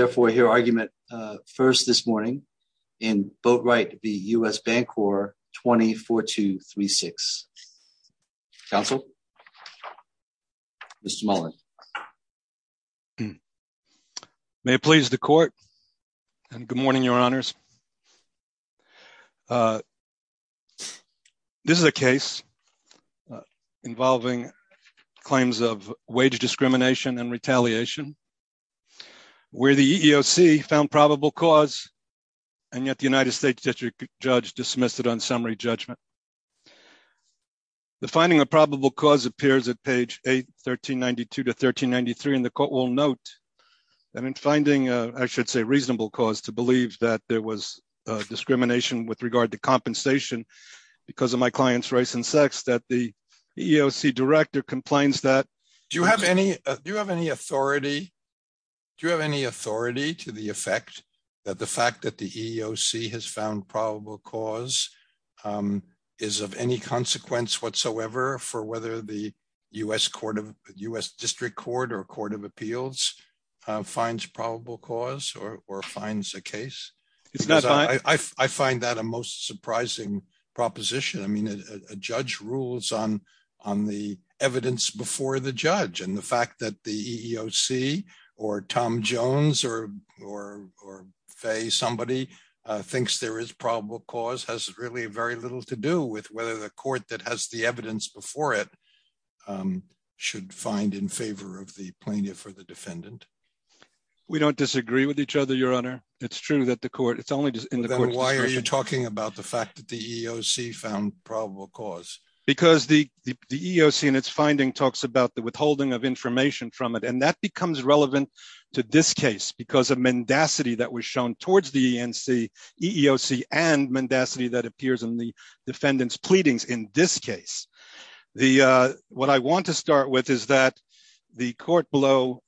therefore hear argument first this morning in Boatright v. U.S. Bancorp 20-4236. Counsel? Mr. Mullin? May it please the court, and good morning, your honors. This is a case involving claims of wage discrimination and retaliation, where the EEOC found probable cause, and yet the United States District Judge dismissed it on summary judgment. The finding of probable cause appears at page 8, 1392-1393, and the court will note that in finding, I should say, reasonable cause to believe that there was discrimination with regard to compensation because of my client's race and sex, that the EEOC director complains that… …is of any consequence whatsoever for whether the U.S. District Court or Court of Appeals finds probable cause or finds a case. I find that a most surprising proposition. I mean, a judge rules on the evidence before the judge, and the fact that the EEOC or Tom Jones or Fay somebody thinks there is probable cause has really very little to do with whether the court that has the evidence before it should find in favor of the plaintiff or the defendant. We don't disagree with each other, your honor. It's true that the court… Then why are you talking about the fact that the EEOC found probable cause? Because the EEOC in its finding talks about the withholding of information from it, and that becomes relevant to this case because of mendacity that was shown towards the EEOC and mendacity that appears in the defendant's pleadings in this case. What I want to start with is that the court below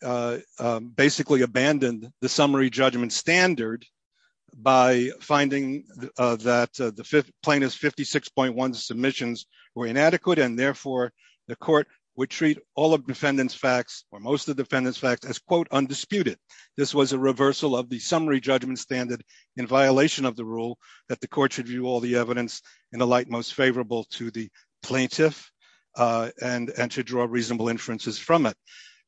basically abandoned the summary judgment standard by finding that the plaintiff's 56.1 submissions were inadequate, and therefore the court would treat all of the defendant's facts or most of the defendant's facts as, quote, undisputed. This was a reversal of the summary judgment standard in violation of the rule that the court should view all the evidence in the light most favorable to the plaintiff and to draw reasonable inferences from it.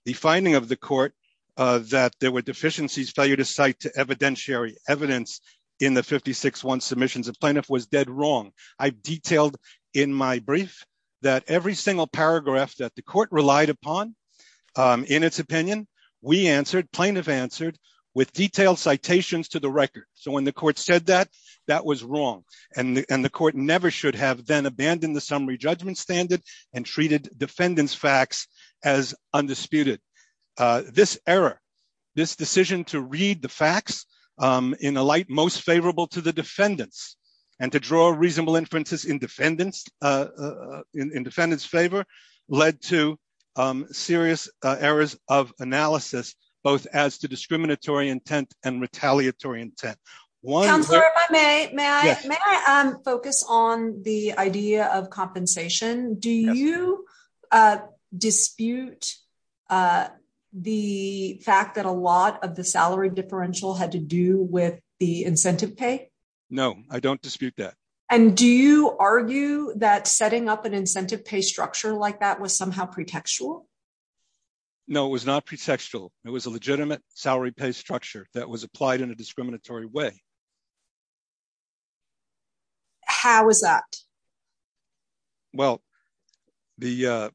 The finding of the court that there were deficiencies, failure to cite evidentiary evidence in the 56.1 submissions of plaintiff was dead wrong. I've detailed in my brief that every single paragraph that the court relied upon in its opinion, we answered, plaintiff answered with detailed citations to the record. So when the court said that, that was wrong, and the court never should have then abandoned the summary judgment standard and treated defendant's facts as undisputed. This error, this decision to read the facts in a light most favorable to the defendants and to draw reasonable inferences in defendant's favor led to serious errors of analysis, both as to discriminatory intent and retaliatory intent. Counselor, if I may, may I focus on the idea of compensation? Do you dispute the fact that a lot of the salary differential had to do with the incentive pay? No, I don't dispute that. And do you argue that setting up an incentive pay structure like that was somehow pretextual? No, it was not pretextual. It was a legitimate salary pay structure that was applied in a discriminatory way. How is that? Well, the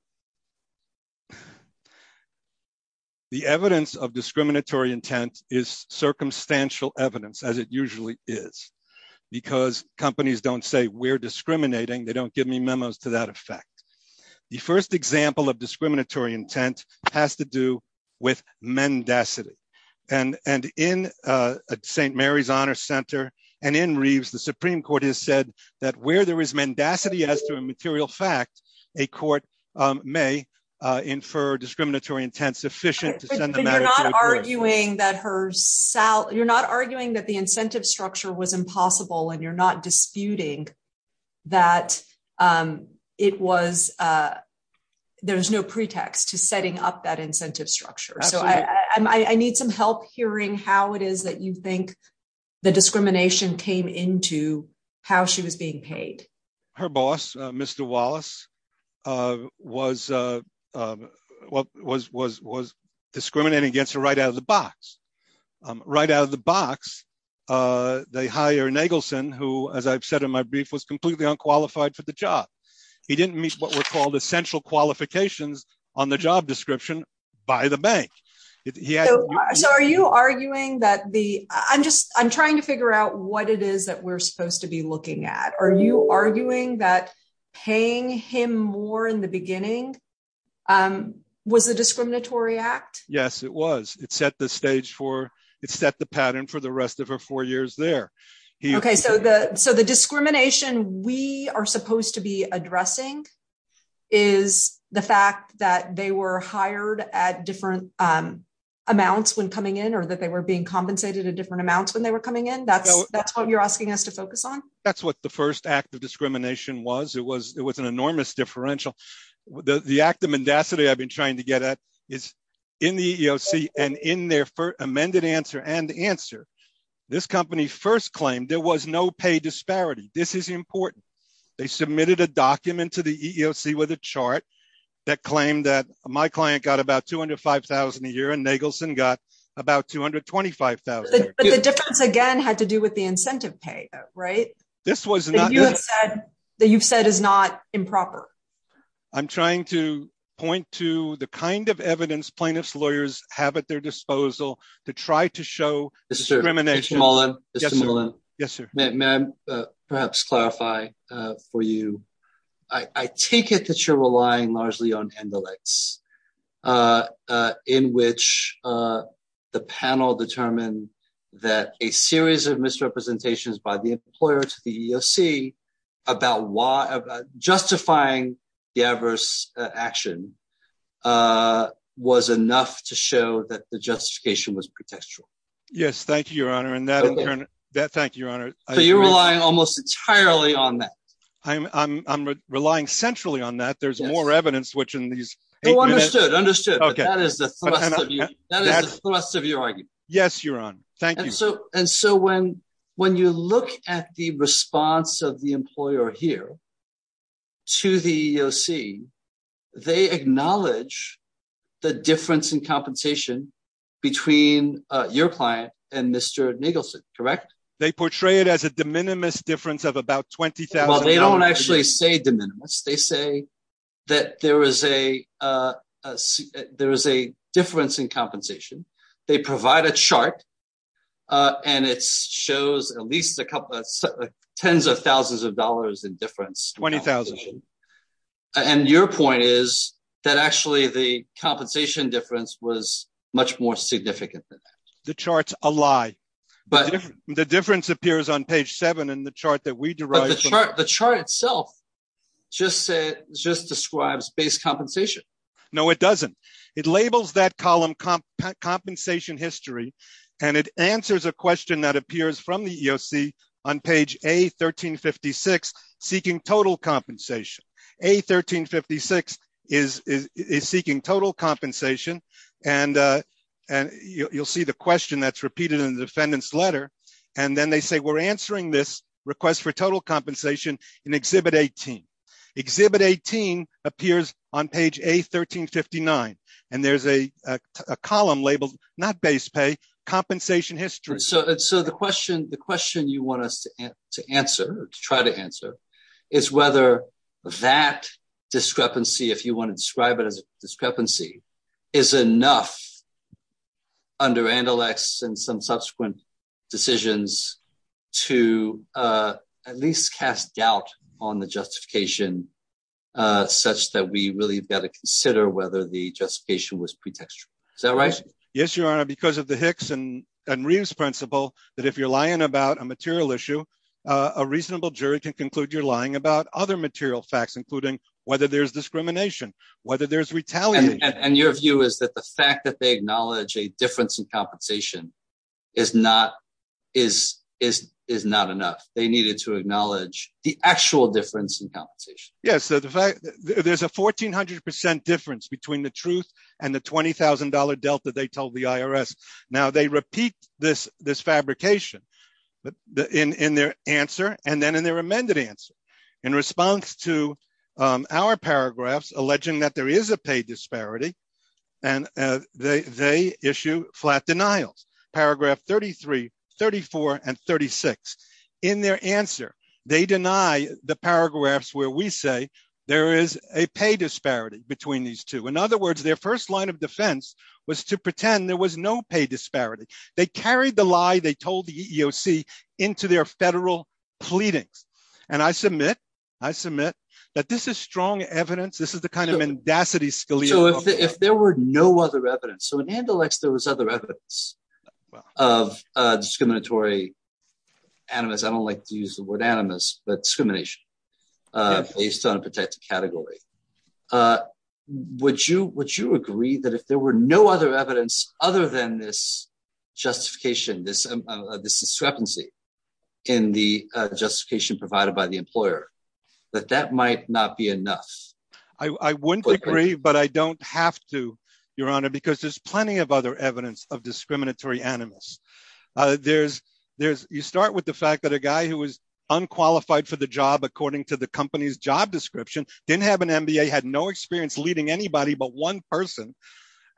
evidence of discriminatory intent is circumstantial evidence, as it usually is, because companies don't say we're discriminating. They don't give me memos to that effect. The first example of discriminatory intent has to do with mendacity. And in St. Mary's Honor Center and in Reeves, the Supreme Court has said that where there is mendacity as to a material fact, a court may infer discriminatory intent sufficient to send the matter to a court. You're not arguing that the incentive structure was impossible and you're not disputing that there was no pretext to setting up that incentive structure. So I need some help hearing how it is that you think the discrimination came into how she was being paid. Her boss, Mr. Wallace, was discriminating against her right out of the box. Right out of the box, they hire Nagelson, who, as I've said in my brief, was completely unqualified for the job. He didn't meet what were called essential qualifications on the job description by the bank. So are you arguing that the I'm just I'm trying to figure out what it is that we're supposed to be looking at? Are you arguing that paying him more in the beginning was a discriminatory act? Yes, it was. It set the stage for it, set the pattern for the rest of her four years there. OK, so the so the discrimination we are supposed to be addressing is the fact that they were hired at different amounts when coming in or that they were being compensated at different amounts when they were coming in. That's what you're asking us to focus on. That's what the first act of discrimination was. It was it was an enormous differential. The act of mendacity I've been trying to get at is in the EEOC and in their amended answer and answer. This company first claimed there was no pay disparity. This is important. They submitted a document to the EEOC with a chart that claimed that my client got about two hundred five thousand a year and Nagelson got about two hundred twenty five thousand. But the difference, again, had to do with the incentive pay. Right. This was not that you have said that you've said is not improper. I'm trying to point to the kind of evidence plaintiffs lawyers have at their disposal to try to show discrimination. Yes, sir. May I perhaps clarify for you? I take it that you're relying largely on analytics in which the panel determined that a series of misrepresentations by the employer to the EEOC about why justifying the adverse action was enough to show that the justification was contextual. Yes. Thank you, Your Honor. And that thank you, Your Honor. So you're relying almost entirely on that. I'm relying centrally on that. There's more evidence, which in these. Understood. Understood. That is the thrust of your argument. Yes, Your Honor. Thank you. And so and so when when you look at the response of the employer here. To the EEOC, they acknowledge the difference in compensation between your client and Mr. Nagelson, correct? They portray it as a de minimis difference of about 20,000. They don't actually say de minimis. They say that there is a there is a difference in compensation. They provide a chart and it shows at least a couple of tens of thousands of dollars in difference. 20,000. And your point is that actually the compensation difference was much more significant than that. The chart's a lie. But the difference appears on page seven in the chart that we derived. The chart itself just said just describes base compensation. No, it doesn't. It labels that column compensation history. And it answers a question that appears from the EEOC on page A1356 seeking total compensation. A1356 is is seeking total compensation. And you'll see the question that's repeated in the defendant's letter. And then they say we're answering this request for total compensation in Exhibit 18. Exhibit 18 appears on page A1359. And there's a column labeled not base pay compensation history. So the question the question you want us to answer to try to answer is whether that discrepancy, if you want to describe it as a discrepancy, is enough. Under Andalax and some subsequent decisions to at least cast doubt on the justification such that we really got to consider whether the justification was pretextual. Is that right? Yes, Your Honor, because of the Hicks and Reeves principle that if you're lying about a material issue, a reasonable jury can conclude you're lying about other material facts, including whether there's discrimination, whether there's retaliation. And your view is that the fact that they acknowledge a difference in compensation is not is is is not enough. They needed to acknowledge the actual difference in compensation. Yes. So the fact there's a fourteen hundred percent difference between the truth and the twenty thousand dollar delta, they told the IRS. Now they repeat this this fabrication in their answer and then in their amended answer in response to our paragraphs, alleging that there is a pay disparity and they issue flat denials. Paragraph thirty three, thirty four and thirty six. In their answer, they deny the paragraphs where we say there is a pay disparity between these two. In other words, their first line of defense was to pretend there was no pay disparity. They carried the lie they told the EEOC into their federal pleadings. And I submit I submit that this is strong evidence. This is the kind of mendacity Scalia. So if there were no other evidence, so in Andalus, there was other evidence of discriminatory animus. I don't like to use the word animus, but discrimination based on a particular category. Would you would you agree that if there were no other evidence other than this justification, this this discrepancy in the justification provided by the employer, that that might not be enough? I wouldn't agree, but I don't have to, Your Honor, because there's plenty of other evidence of discriminatory animus. There's there's you start with the fact that a guy who is unqualified for the job, according to the company's job description, didn't have an MBA, had no experience leading anybody but one person.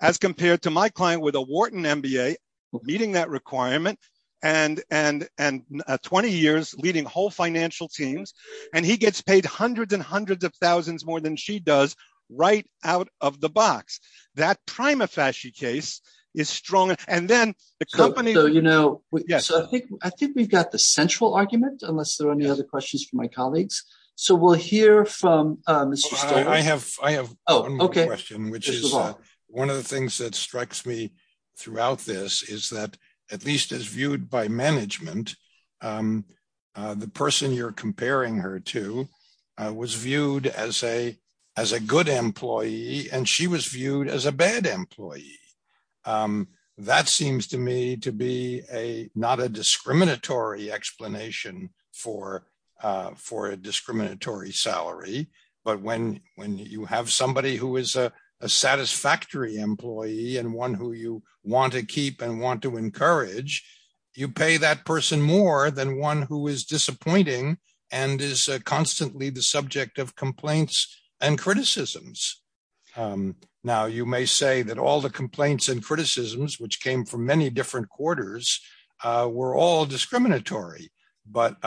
As compared to my client with a Wharton MBA meeting that requirement and and and 20 years leading whole financial teams. And he gets paid hundreds and hundreds of thousands more than she does right out of the box. That prima facie case is strong. And then the company, you know. Yes. I think we've got the central argument, unless there are any other questions for my colleagues. So we'll hear from Mr. I have I have. Oh, OK. Which is one of the things that strikes me throughout this is that at least as viewed by management, the person you're comparing her to was viewed as a as a good employee and she was viewed as a bad employee. That seems to me to be a not a discriminatory explanation for for a discriminatory salary. But when when you have somebody who is a satisfactory employee and one who you want to keep and want to encourage, you pay that person more than one who is disappointing and is constantly the subject of complaints and criticisms. Now, you may say that all the complaints and criticisms, which came from many different quarters, were all discriminatory. But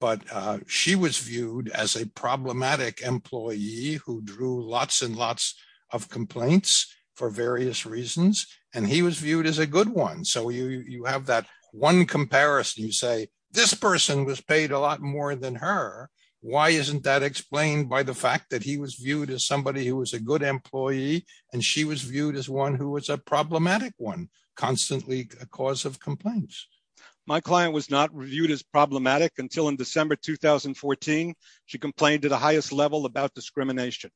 but she was viewed as a problematic employee who drew lots and lots of complaints for various reasons. And he was viewed as a good one. So you have that one comparison. You say this person was paid a lot more than her. Why isn't that explained by the fact that he was viewed as somebody who was a good employee and she was viewed as one who was a problematic one? Constantly a cause of complaints. My client was not reviewed as problematic until in December 2014. She complained to the highest level about discrimination.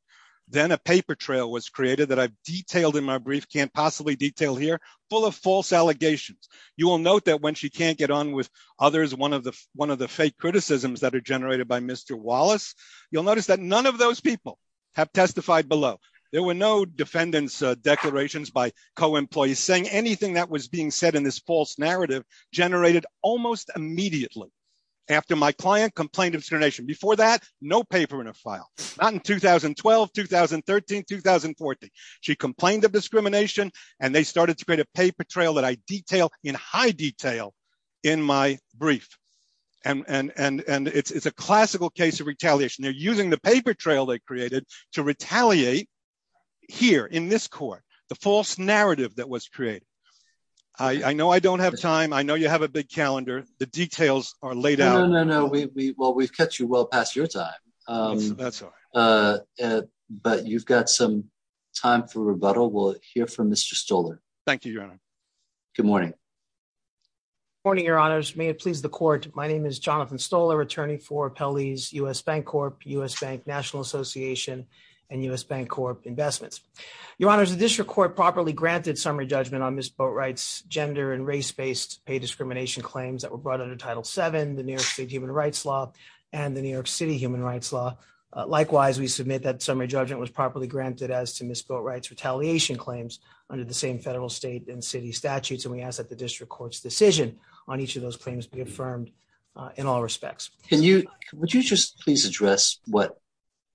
Then a paper trail was created that I've detailed in my brief can't possibly detail here full of false allegations. You will note that when she can't get on with others, one of the one of the fake criticisms that are generated by Mr. Wallace, you'll notice that none of those people have testified below. There were no defendants declarations by co-employees saying anything that was being said in this false narrative generated almost immediately. After my client complained of discrimination before that, no paper in a file, not in 2012, 2013, 2014. She complained of discrimination and they started to create a paper trail that I detail in high detail in my brief. And it's a classical case of retaliation. They're using the paper trail they created to retaliate here in this court, the false narrative that was created. I know I don't have time. I know you have a big calendar. The details are laid out. No, no, no. Well, we've cut you well past your time. But you've got some time for rebuttal. We'll hear from Mr. Stoler. Thank you, Your Honor. Good morning. Morning, Your Honors. May it please the court. My name is Jonathan Stoler, attorney for Pelley's U.S. Bank Corp, U.S. Bank National Association and U.S. Bank Corp investments. Your Honor, the district court properly granted summary judgment on Miss Boatwright's gender and race based pay discrimination claims that were brought under Title 7, the New York State human rights law and the New York City human rights law. Likewise, we submit that summary judgment was properly granted as to Miss Boatwright's retaliation claims under the same federal, state and city statutes. And we ask that the district court's decision on each of those claims be affirmed in all respects. Can you would you just please address what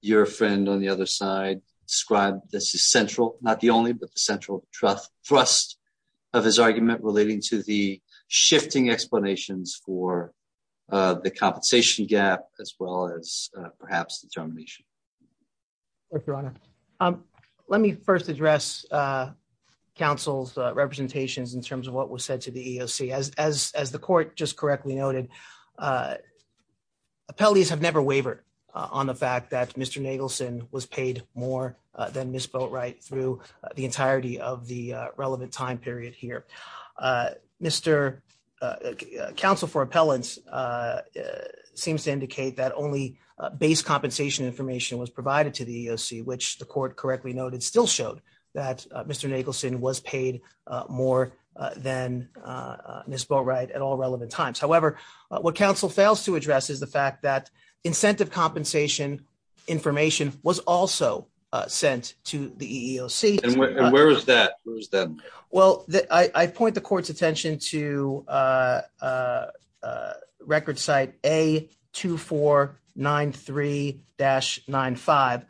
your friend on the other side described? This is central, not the only, but the central trust thrust of his argument relating to the shifting explanations for the compensation gap, as well as perhaps determination. Your Honor. Um, let me first address counsel's representations in terms of what was said to the EOC as, as, as the court just correctly noted. Appellees have never wavered on the fact that Mr. Nagelson was paid more than Miss Boatwright through the entirety of the relevant time period here. Mr. Counsel for appellants seems to indicate that only base compensation information was provided to the EOC, which the court correctly noted still showed that Mr. Nagelson was paid more than Miss Boatwright at all relevant times. However, what counsel fails to address is the fact that incentive compensation information was also sent to the EOC. And where is that? Well, I point the court's attention to record site A2493-95.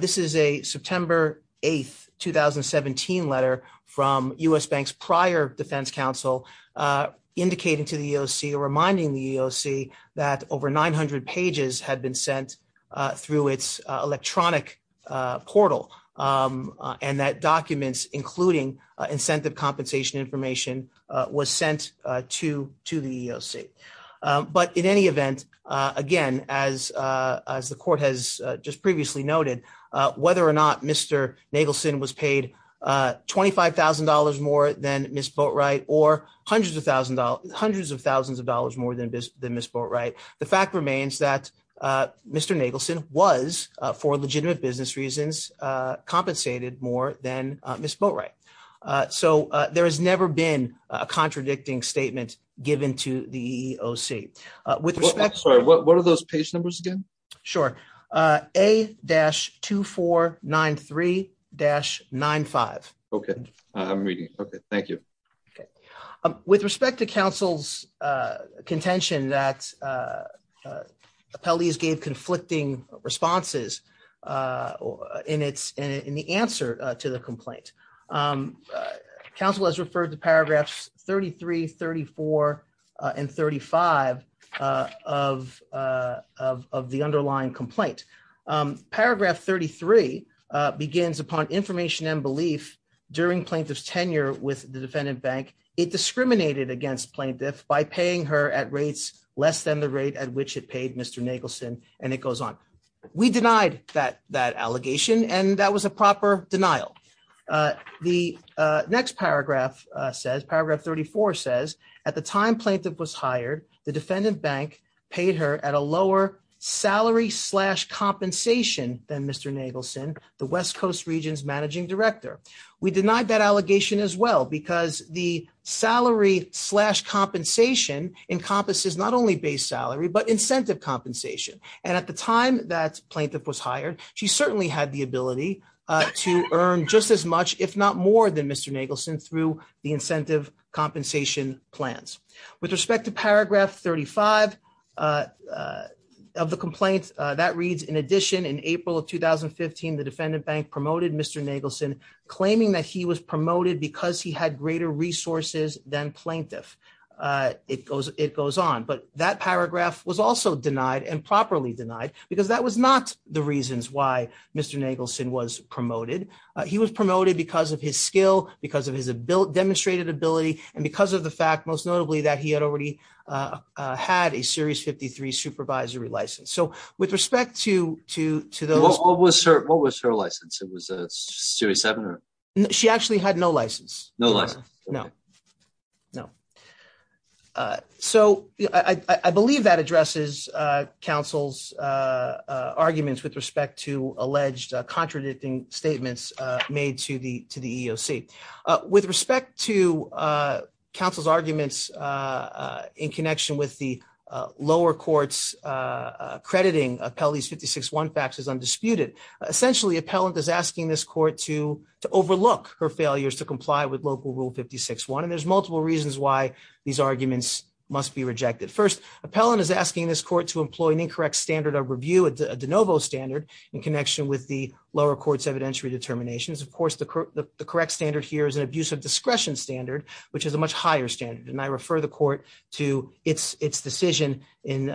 This is a September 8th, 2017 letter from U.S. Bank's prior defense counsel, indicating to the EOC or reminding the EOC that over 900 pages had been sent through its electronic portal. And that documents, including incentive compensation information was sent to, to the EOC. But in any event, again, as, as the court has just previously noted, whether or not Mr. Nagelson was paid $25,000 more than Miss Boatwright or hundreds of thousands, hundreds of thousands of dollars more than Miss Boatwright. The fact remains that Mr. Nagelson was for legitimate business reasons, compensated more than Miss Boatwright. So there has never been a contradicting statement given to the EOC. With respect. What are those page numbers again? Sure. A-2493-95. Okay. Okay. Thank you. Okay. Appellees gave conflicting responses in the answer to the complaint. Counsel has referred to paragraphs 33, 34 and 35 of the underlying complaint. Paragraph 33 begins upon information and belief during plaintiff's tenure with the defendant bank. It discriminated against plaintiff by paying her at rates less than the rate at which it paid Mr. Nagelson, and it goes on. We denied that that allegation and that was a proper denial. The next paragraph says paragraph 34 says at the time plaintiff was hired. The defendant bank paid her at a lower salary slash compensation than Mr. Nagelson, the West Coast regions managing director. We denied that allegation as well because the salary slash compensation encompasses not only base salary, but incentive compensation. And at the time that plaintiff was hired, she certainly had the ability to earn just as much, if not more than Mr. Nagelson through the incentive compensation plans. With respect to paragraph 35 of the complaint that reads, in addition, in April of 2015, the defendant bank promoted Mr. Nagelson, claiming that he was promoted because he had greater resources than plaintiff. It goes on, but that paragraph was also denied and properly denied because that was not the reasons why Mr. Nagelson was promoted. He was promoted because of his skill, because of his demonstrated ability, and because of the fact, most notably, that he had already had a series 53 supervisory license. So with respect to those. What was her license? It was a series seven? She actually had no license. No license. No. No. So, I believe that addresses counsel's arguments with respect to alleged contradicting statements made to the to the EOC. With respect to counsel's arguments in connection with the lower courts crediting Appellee's 56-1 facts as undisputed. Essentially, appellant is asking this court to overlook her failures to comply with local rule 56-1. And there's multiple reasons why these arguments must be rejected. First, appellant is asking this court to employ an incorrect standard of review, a de novo standard, in connection with the lower court's evidentiary determinations. Of course, the correct standard here is an abusive discretion standard, which is a much higher standard. And I refer the court to its decision in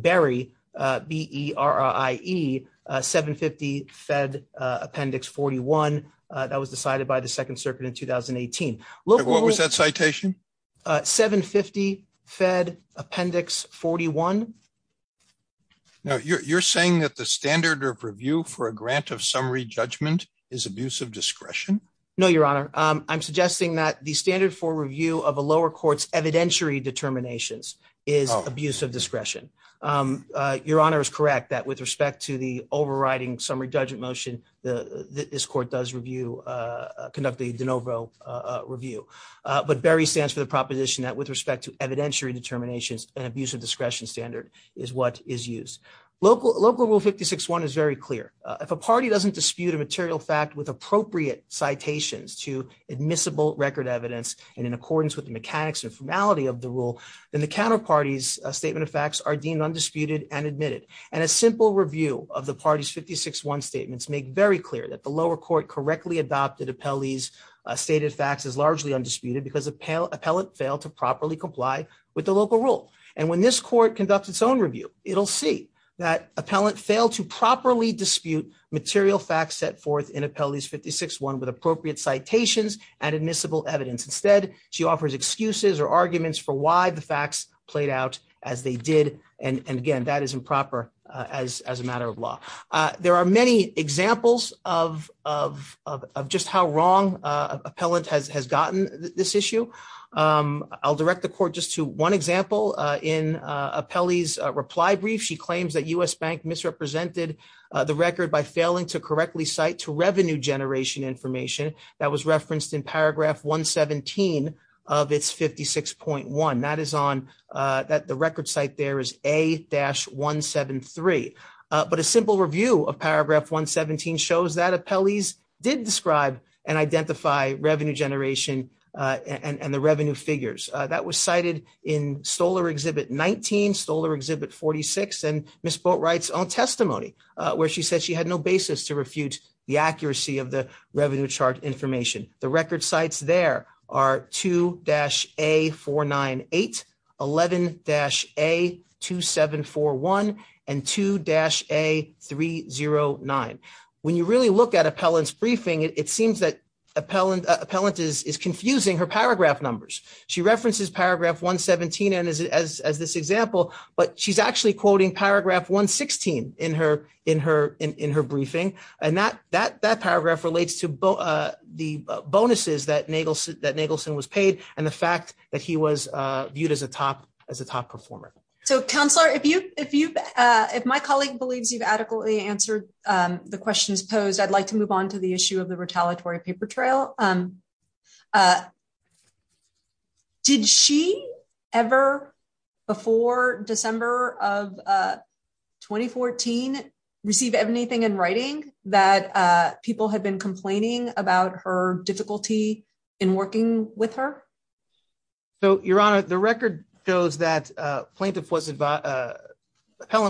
Berry, B-E-R-I-E, 750 Fed Appendix 41. That was decided by the Second Circuit in 2018. What was that citation? 750 Fed Appendix 41. Now, you're saying that the standard of review for a grant of summary judgment is abusive discretion? No, Your Honor. I'm suggesting that the standard for review of a lower court's evidentiary determinations is abusive discretion. Your Honor is correct that with respect to the overriding summary judgment motion, this court does review, conduct a de novo review. But Berry stands for the proposition that with respect to evidentiary determinations, an abusive discretion standard is what is used. Local rule 56-1 is very clear. If a party doesn't dispute a material fact with appropriate citations to admissible record evidence and in accordance with the mechanics and formality of the rule, then the counterparty's statement of facts are deemed undisputed and admitted. And a simple review of the party's 56-1 statements make very clear that the lower court correctly adopted Appellee's stated facts as largely undisputed because Appellant failed to properly comply with the local rule. And when this court conducts its own review, it'll see that Appellant failed to properly dispute material facts set forth in Appellee's 56-1 with appropriate citations and admissible evidence. Instead, she offers excuses or arguments for why the facts played out as they did. And again, that is improper as a matter of law. There are many examples of just how wrong Appellant has gotten this issue. I'll direct the court just to one example. In Appellee's reply brief, she claims that U.S. Bank misrepresented the record by failing to correctly cite to revenue generation information that was referenced in paragraph 117 of its 56.1. That is on the record site there is A-173. But a simple review of paragraph 117 shows that Appellee's did describe and identify revenue generation and the revenue figures. That was cited in Stoler Exhibit 19, Stoler Exhibit 46, and Ms. Boatwright's own testimony where she said she had no basis to refute the accuracy of the revenue chart information. The record sites there are 2-A498, 11-A2741, and 2-A309. When you really look at Appellant's briefing, it seems that Appellant is confusing her paragraph numbers. She references paragraph 117 as this example, but she's actually quoting paragraph 116 in her briefing. And that paragraph relates to the bonuses that Nagelson was paid and the fact that he was viewed as a top performer. So, Counselor, if my colleague believes you've adequately answered the questions posed, I'd like to move on to the issue of the retaliatory paper trail. Did she ever, before December of 2014, receive anything in writing that people had been complaining about her difficulty in working with her? So, Your Honor, the record shows that Appellant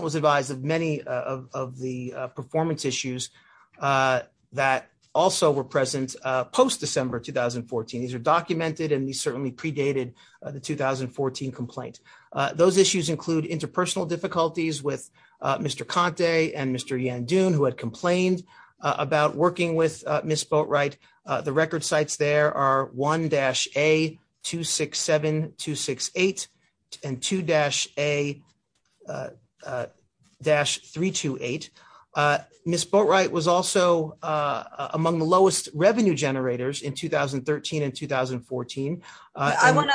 was advised of many of the performance issues that also were present post-December 2014. These are documented, and these certainly predated the 2014 complaint. Those issues include interpersonal difficulties with Mr. Conte and Mr. Yandun, who had complained about working with Ms. Boatwright. The record sites there are 1-A267268 and 2-A-328. Ms. Boatwright was also among the lowest revenue generators in 2013 and 2014. I want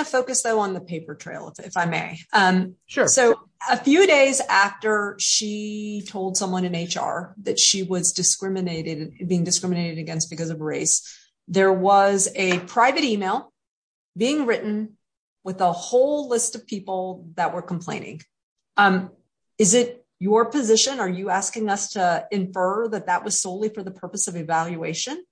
to focus, though, on the paper trail, if I may. So, a few days after she told someone in HR that she was being discriminated against because of race, there was a private email being written with a whole list of people that were complaining. Is it your position, are you asking us to infer that that was solely for the purpose of evaluation?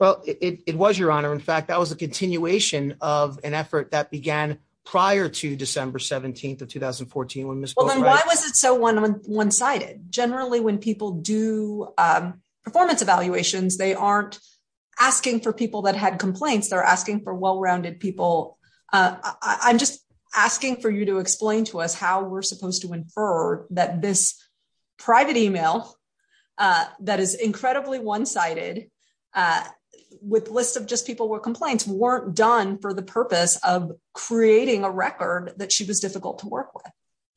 Well, it was, Your Honor. In fact, that was a continuation of an effort that began prior to December 17th of 2014 when Ms. Boatwright… Well, then why was it so one-sided? Generally, when people do performance evaluations, they aren't asking for people that had complaints. They're asking for well-rounded people. I'm just asking for you to explain to us how we're supposed to infer that this private email that is incredibly one-sided with lists of just people with complaints weren't done for the purpose of creating a record that she was difficult to work with.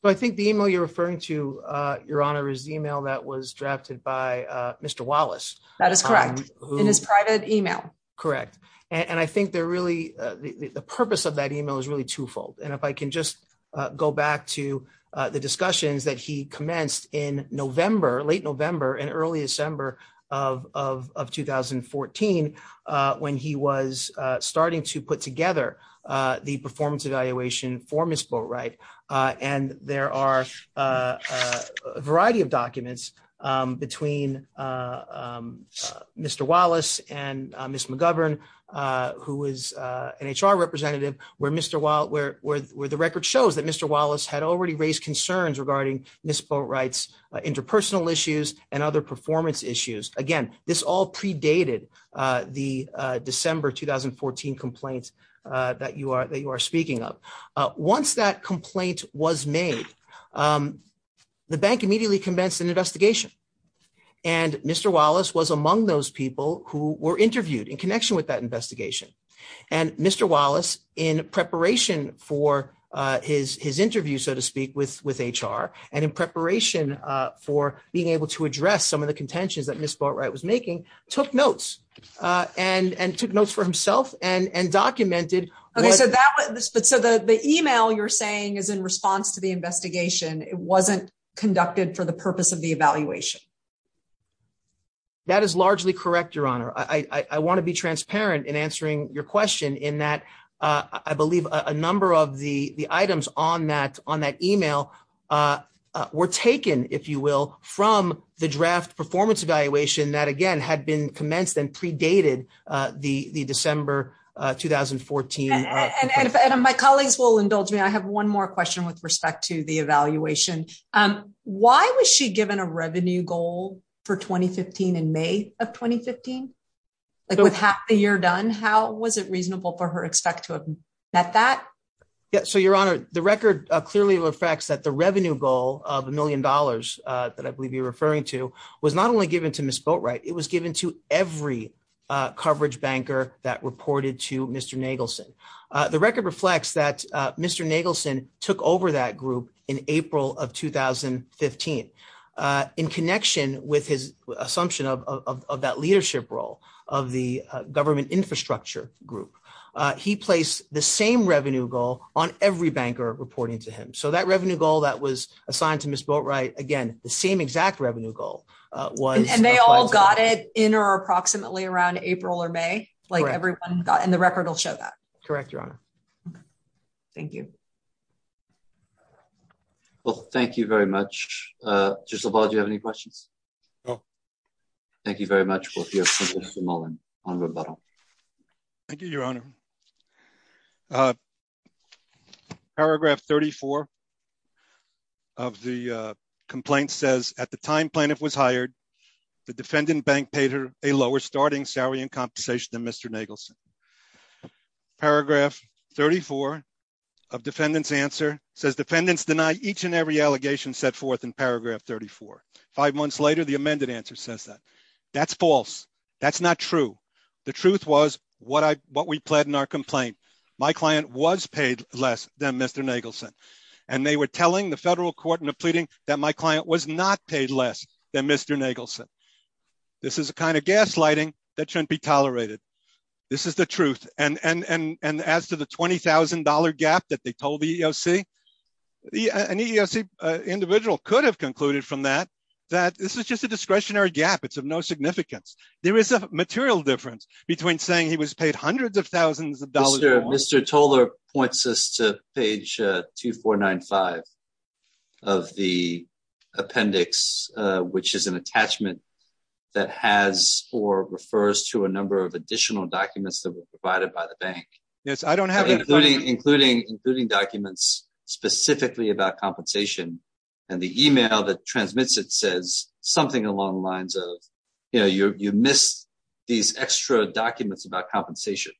I think the email you're referring to, Your Honor, is the email that was drafted by Mr. Wallace. That is correct. In his private email. Correct. And I think the purpose of that email is really twofold. And if I can just go back to the discussions that he commenced in November, late November and early December of 2014, when he was starting to put together the performance evaluation for Ms. Boatwright. And there are a variety of documents between Mr. Wallace and Ms. McGovern, who is an HR representative, where the record shows that Mr. Wallace had already raised concerns regarding Ms. Boatwright's interpersonal issues and other performance issues. Again, this all predated the December 2014 complaints that you are speaking of. Once that complaint was made, the bank immediately commenced an investigation. And Mr. Wallace was among those people who were interviewed in connection with that investigation. And Mr. Wallace, in preparation for his interview, so to speak, with HR, and in preparation for being able to address some of the contentions that Ms. Boatwright was making, took notes and took notes for himself and documented. So the email you're saying is in response to the investigation. It wasn't conducted for the purpose of the evaluation. That is largely correct, Your Honor. I want to be transparent in answering your question in that I believe a number of the items on that email were taken, if you will, from the draft performance evaluation that, again, had been commenced and predated the December 2014. My colleagues will indulge me. I have one more question with respect to the evaluation. Why was she given a revenue goal for 2015 in May of 2015? With half the year done, how was it reasonable for her to expect to have met that? So, Your Honor, the record clearly reflects that the revenue goal of a million dollars that I believe you're referring to was not only given to Ms. Boatwright, it was given to every coverage banker that reported to Mr. Nagelson. The record reflects that Mr. Nagelson took over that group in April of 2015. In connection with his assumption of that leadership role of the government infrastructure group, he placed the same revenue goal on every banker reporting to him. So that revenue goal that was assigned to Ms. Boatwright, again, the same exact revenue goal. And they all got it in or approximately around April or May? Correct. And the record will show that? Correct, Your Honor. Thank you. Well, thank you very much. Justice LaValle, do you have any questions? No. Thank you very much. Thank you, Your Honor. Paragraph 34 of the complaint says, at the time plaintiff was hired, the defendant bank paid her a lower starting salary and compensation than Mr. Nagelson. Paragraph 34 of defendant's answer says defendants deny each and every allegation set forth in paragraph 34. Five months later, the amended answer says that. That's false. That's not true. The truth was what we pled in our complaint. My client was paid less than Mr. Nagelson. And they were telling the federal court in a pleading that my client was not paid less than Mr. Nagelson. This is the kind of gaslighting that shouldn't be tolerated. This is the truth. And as to the $20,000 gap that they told the EEOC, an EEOC individual could have concluded from that that this is just a discretionary gap. It's of no significance. There is a material difference between saying he was paid hundreds of thousands of dollars. Mr. Toler points us to page 2495 of the appendix, which is an attachment that has or refers to a number of additional documents that were provided by the bank. Yes, I don't have it. Including documents specifically about compensation and the email that transmits it says something along the lines of, you know, you missed these extra documents about compensation.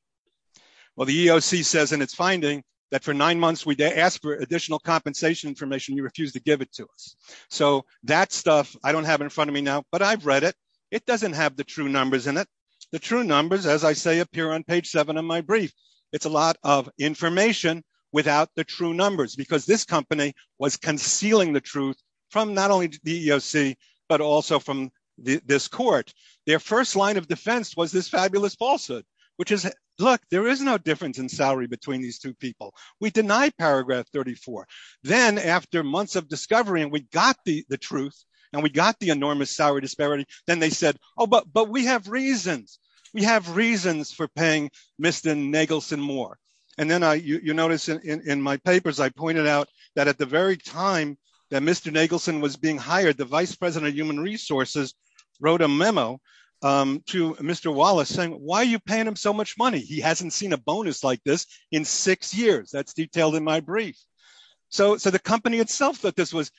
Well, the EEOC says in its finding that for nine months we asked for additional compensation information. You refused to give it to us. So that stuff I don't have in front of me now, but I've read it. It doesn't have the true numbers in it. The true numbers, as I say, appear on page seven of my brief. It's a lot of information without the true numbers because this company was concealing the truth from not only the EEOC, but also from this court. Their first line of defense was this fabulous falsehood, which is, look, there is no difference in salary between these two people. We deny paragraph 34. Then after months of discovery and we got the truth and we got the enormous salary disparity, then they said, oh, but we have reasons. We have reasons for paying Mr. Nagelson more. And then you notice in my papers, I pointed out that at the very time that Mr. Nagelson was being hired, the vice president of human resources wrote a memo to Mr. Wallace saying, why are you paying him so much money? He hasn't seen a bonus like this in six years. That's detailed in my brief. So the company itself thought this was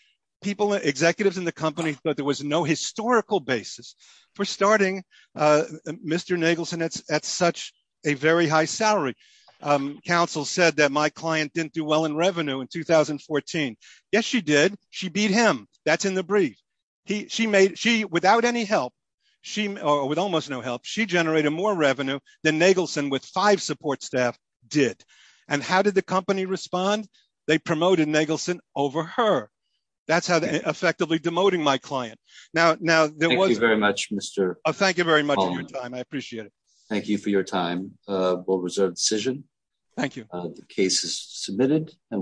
people, executives in the company thought there was no historical basis for starting Mr. Nagelson at such a very high salary. Counsel said that my client didn't do well in revenue in 2014. Yes, she did. She beat him. That's in the brief. She made she without any help, she with almost no help. She generated more revenue than Nagelson with five support staff did. And how did the company respond? They promoted Nagelson over her. That's how effectively demoting my client. Now, now there was very much, Mr. Oh, thank you very much. I appreciate it. Thank you for your time. Thank you. The case is submitted and we'll move on.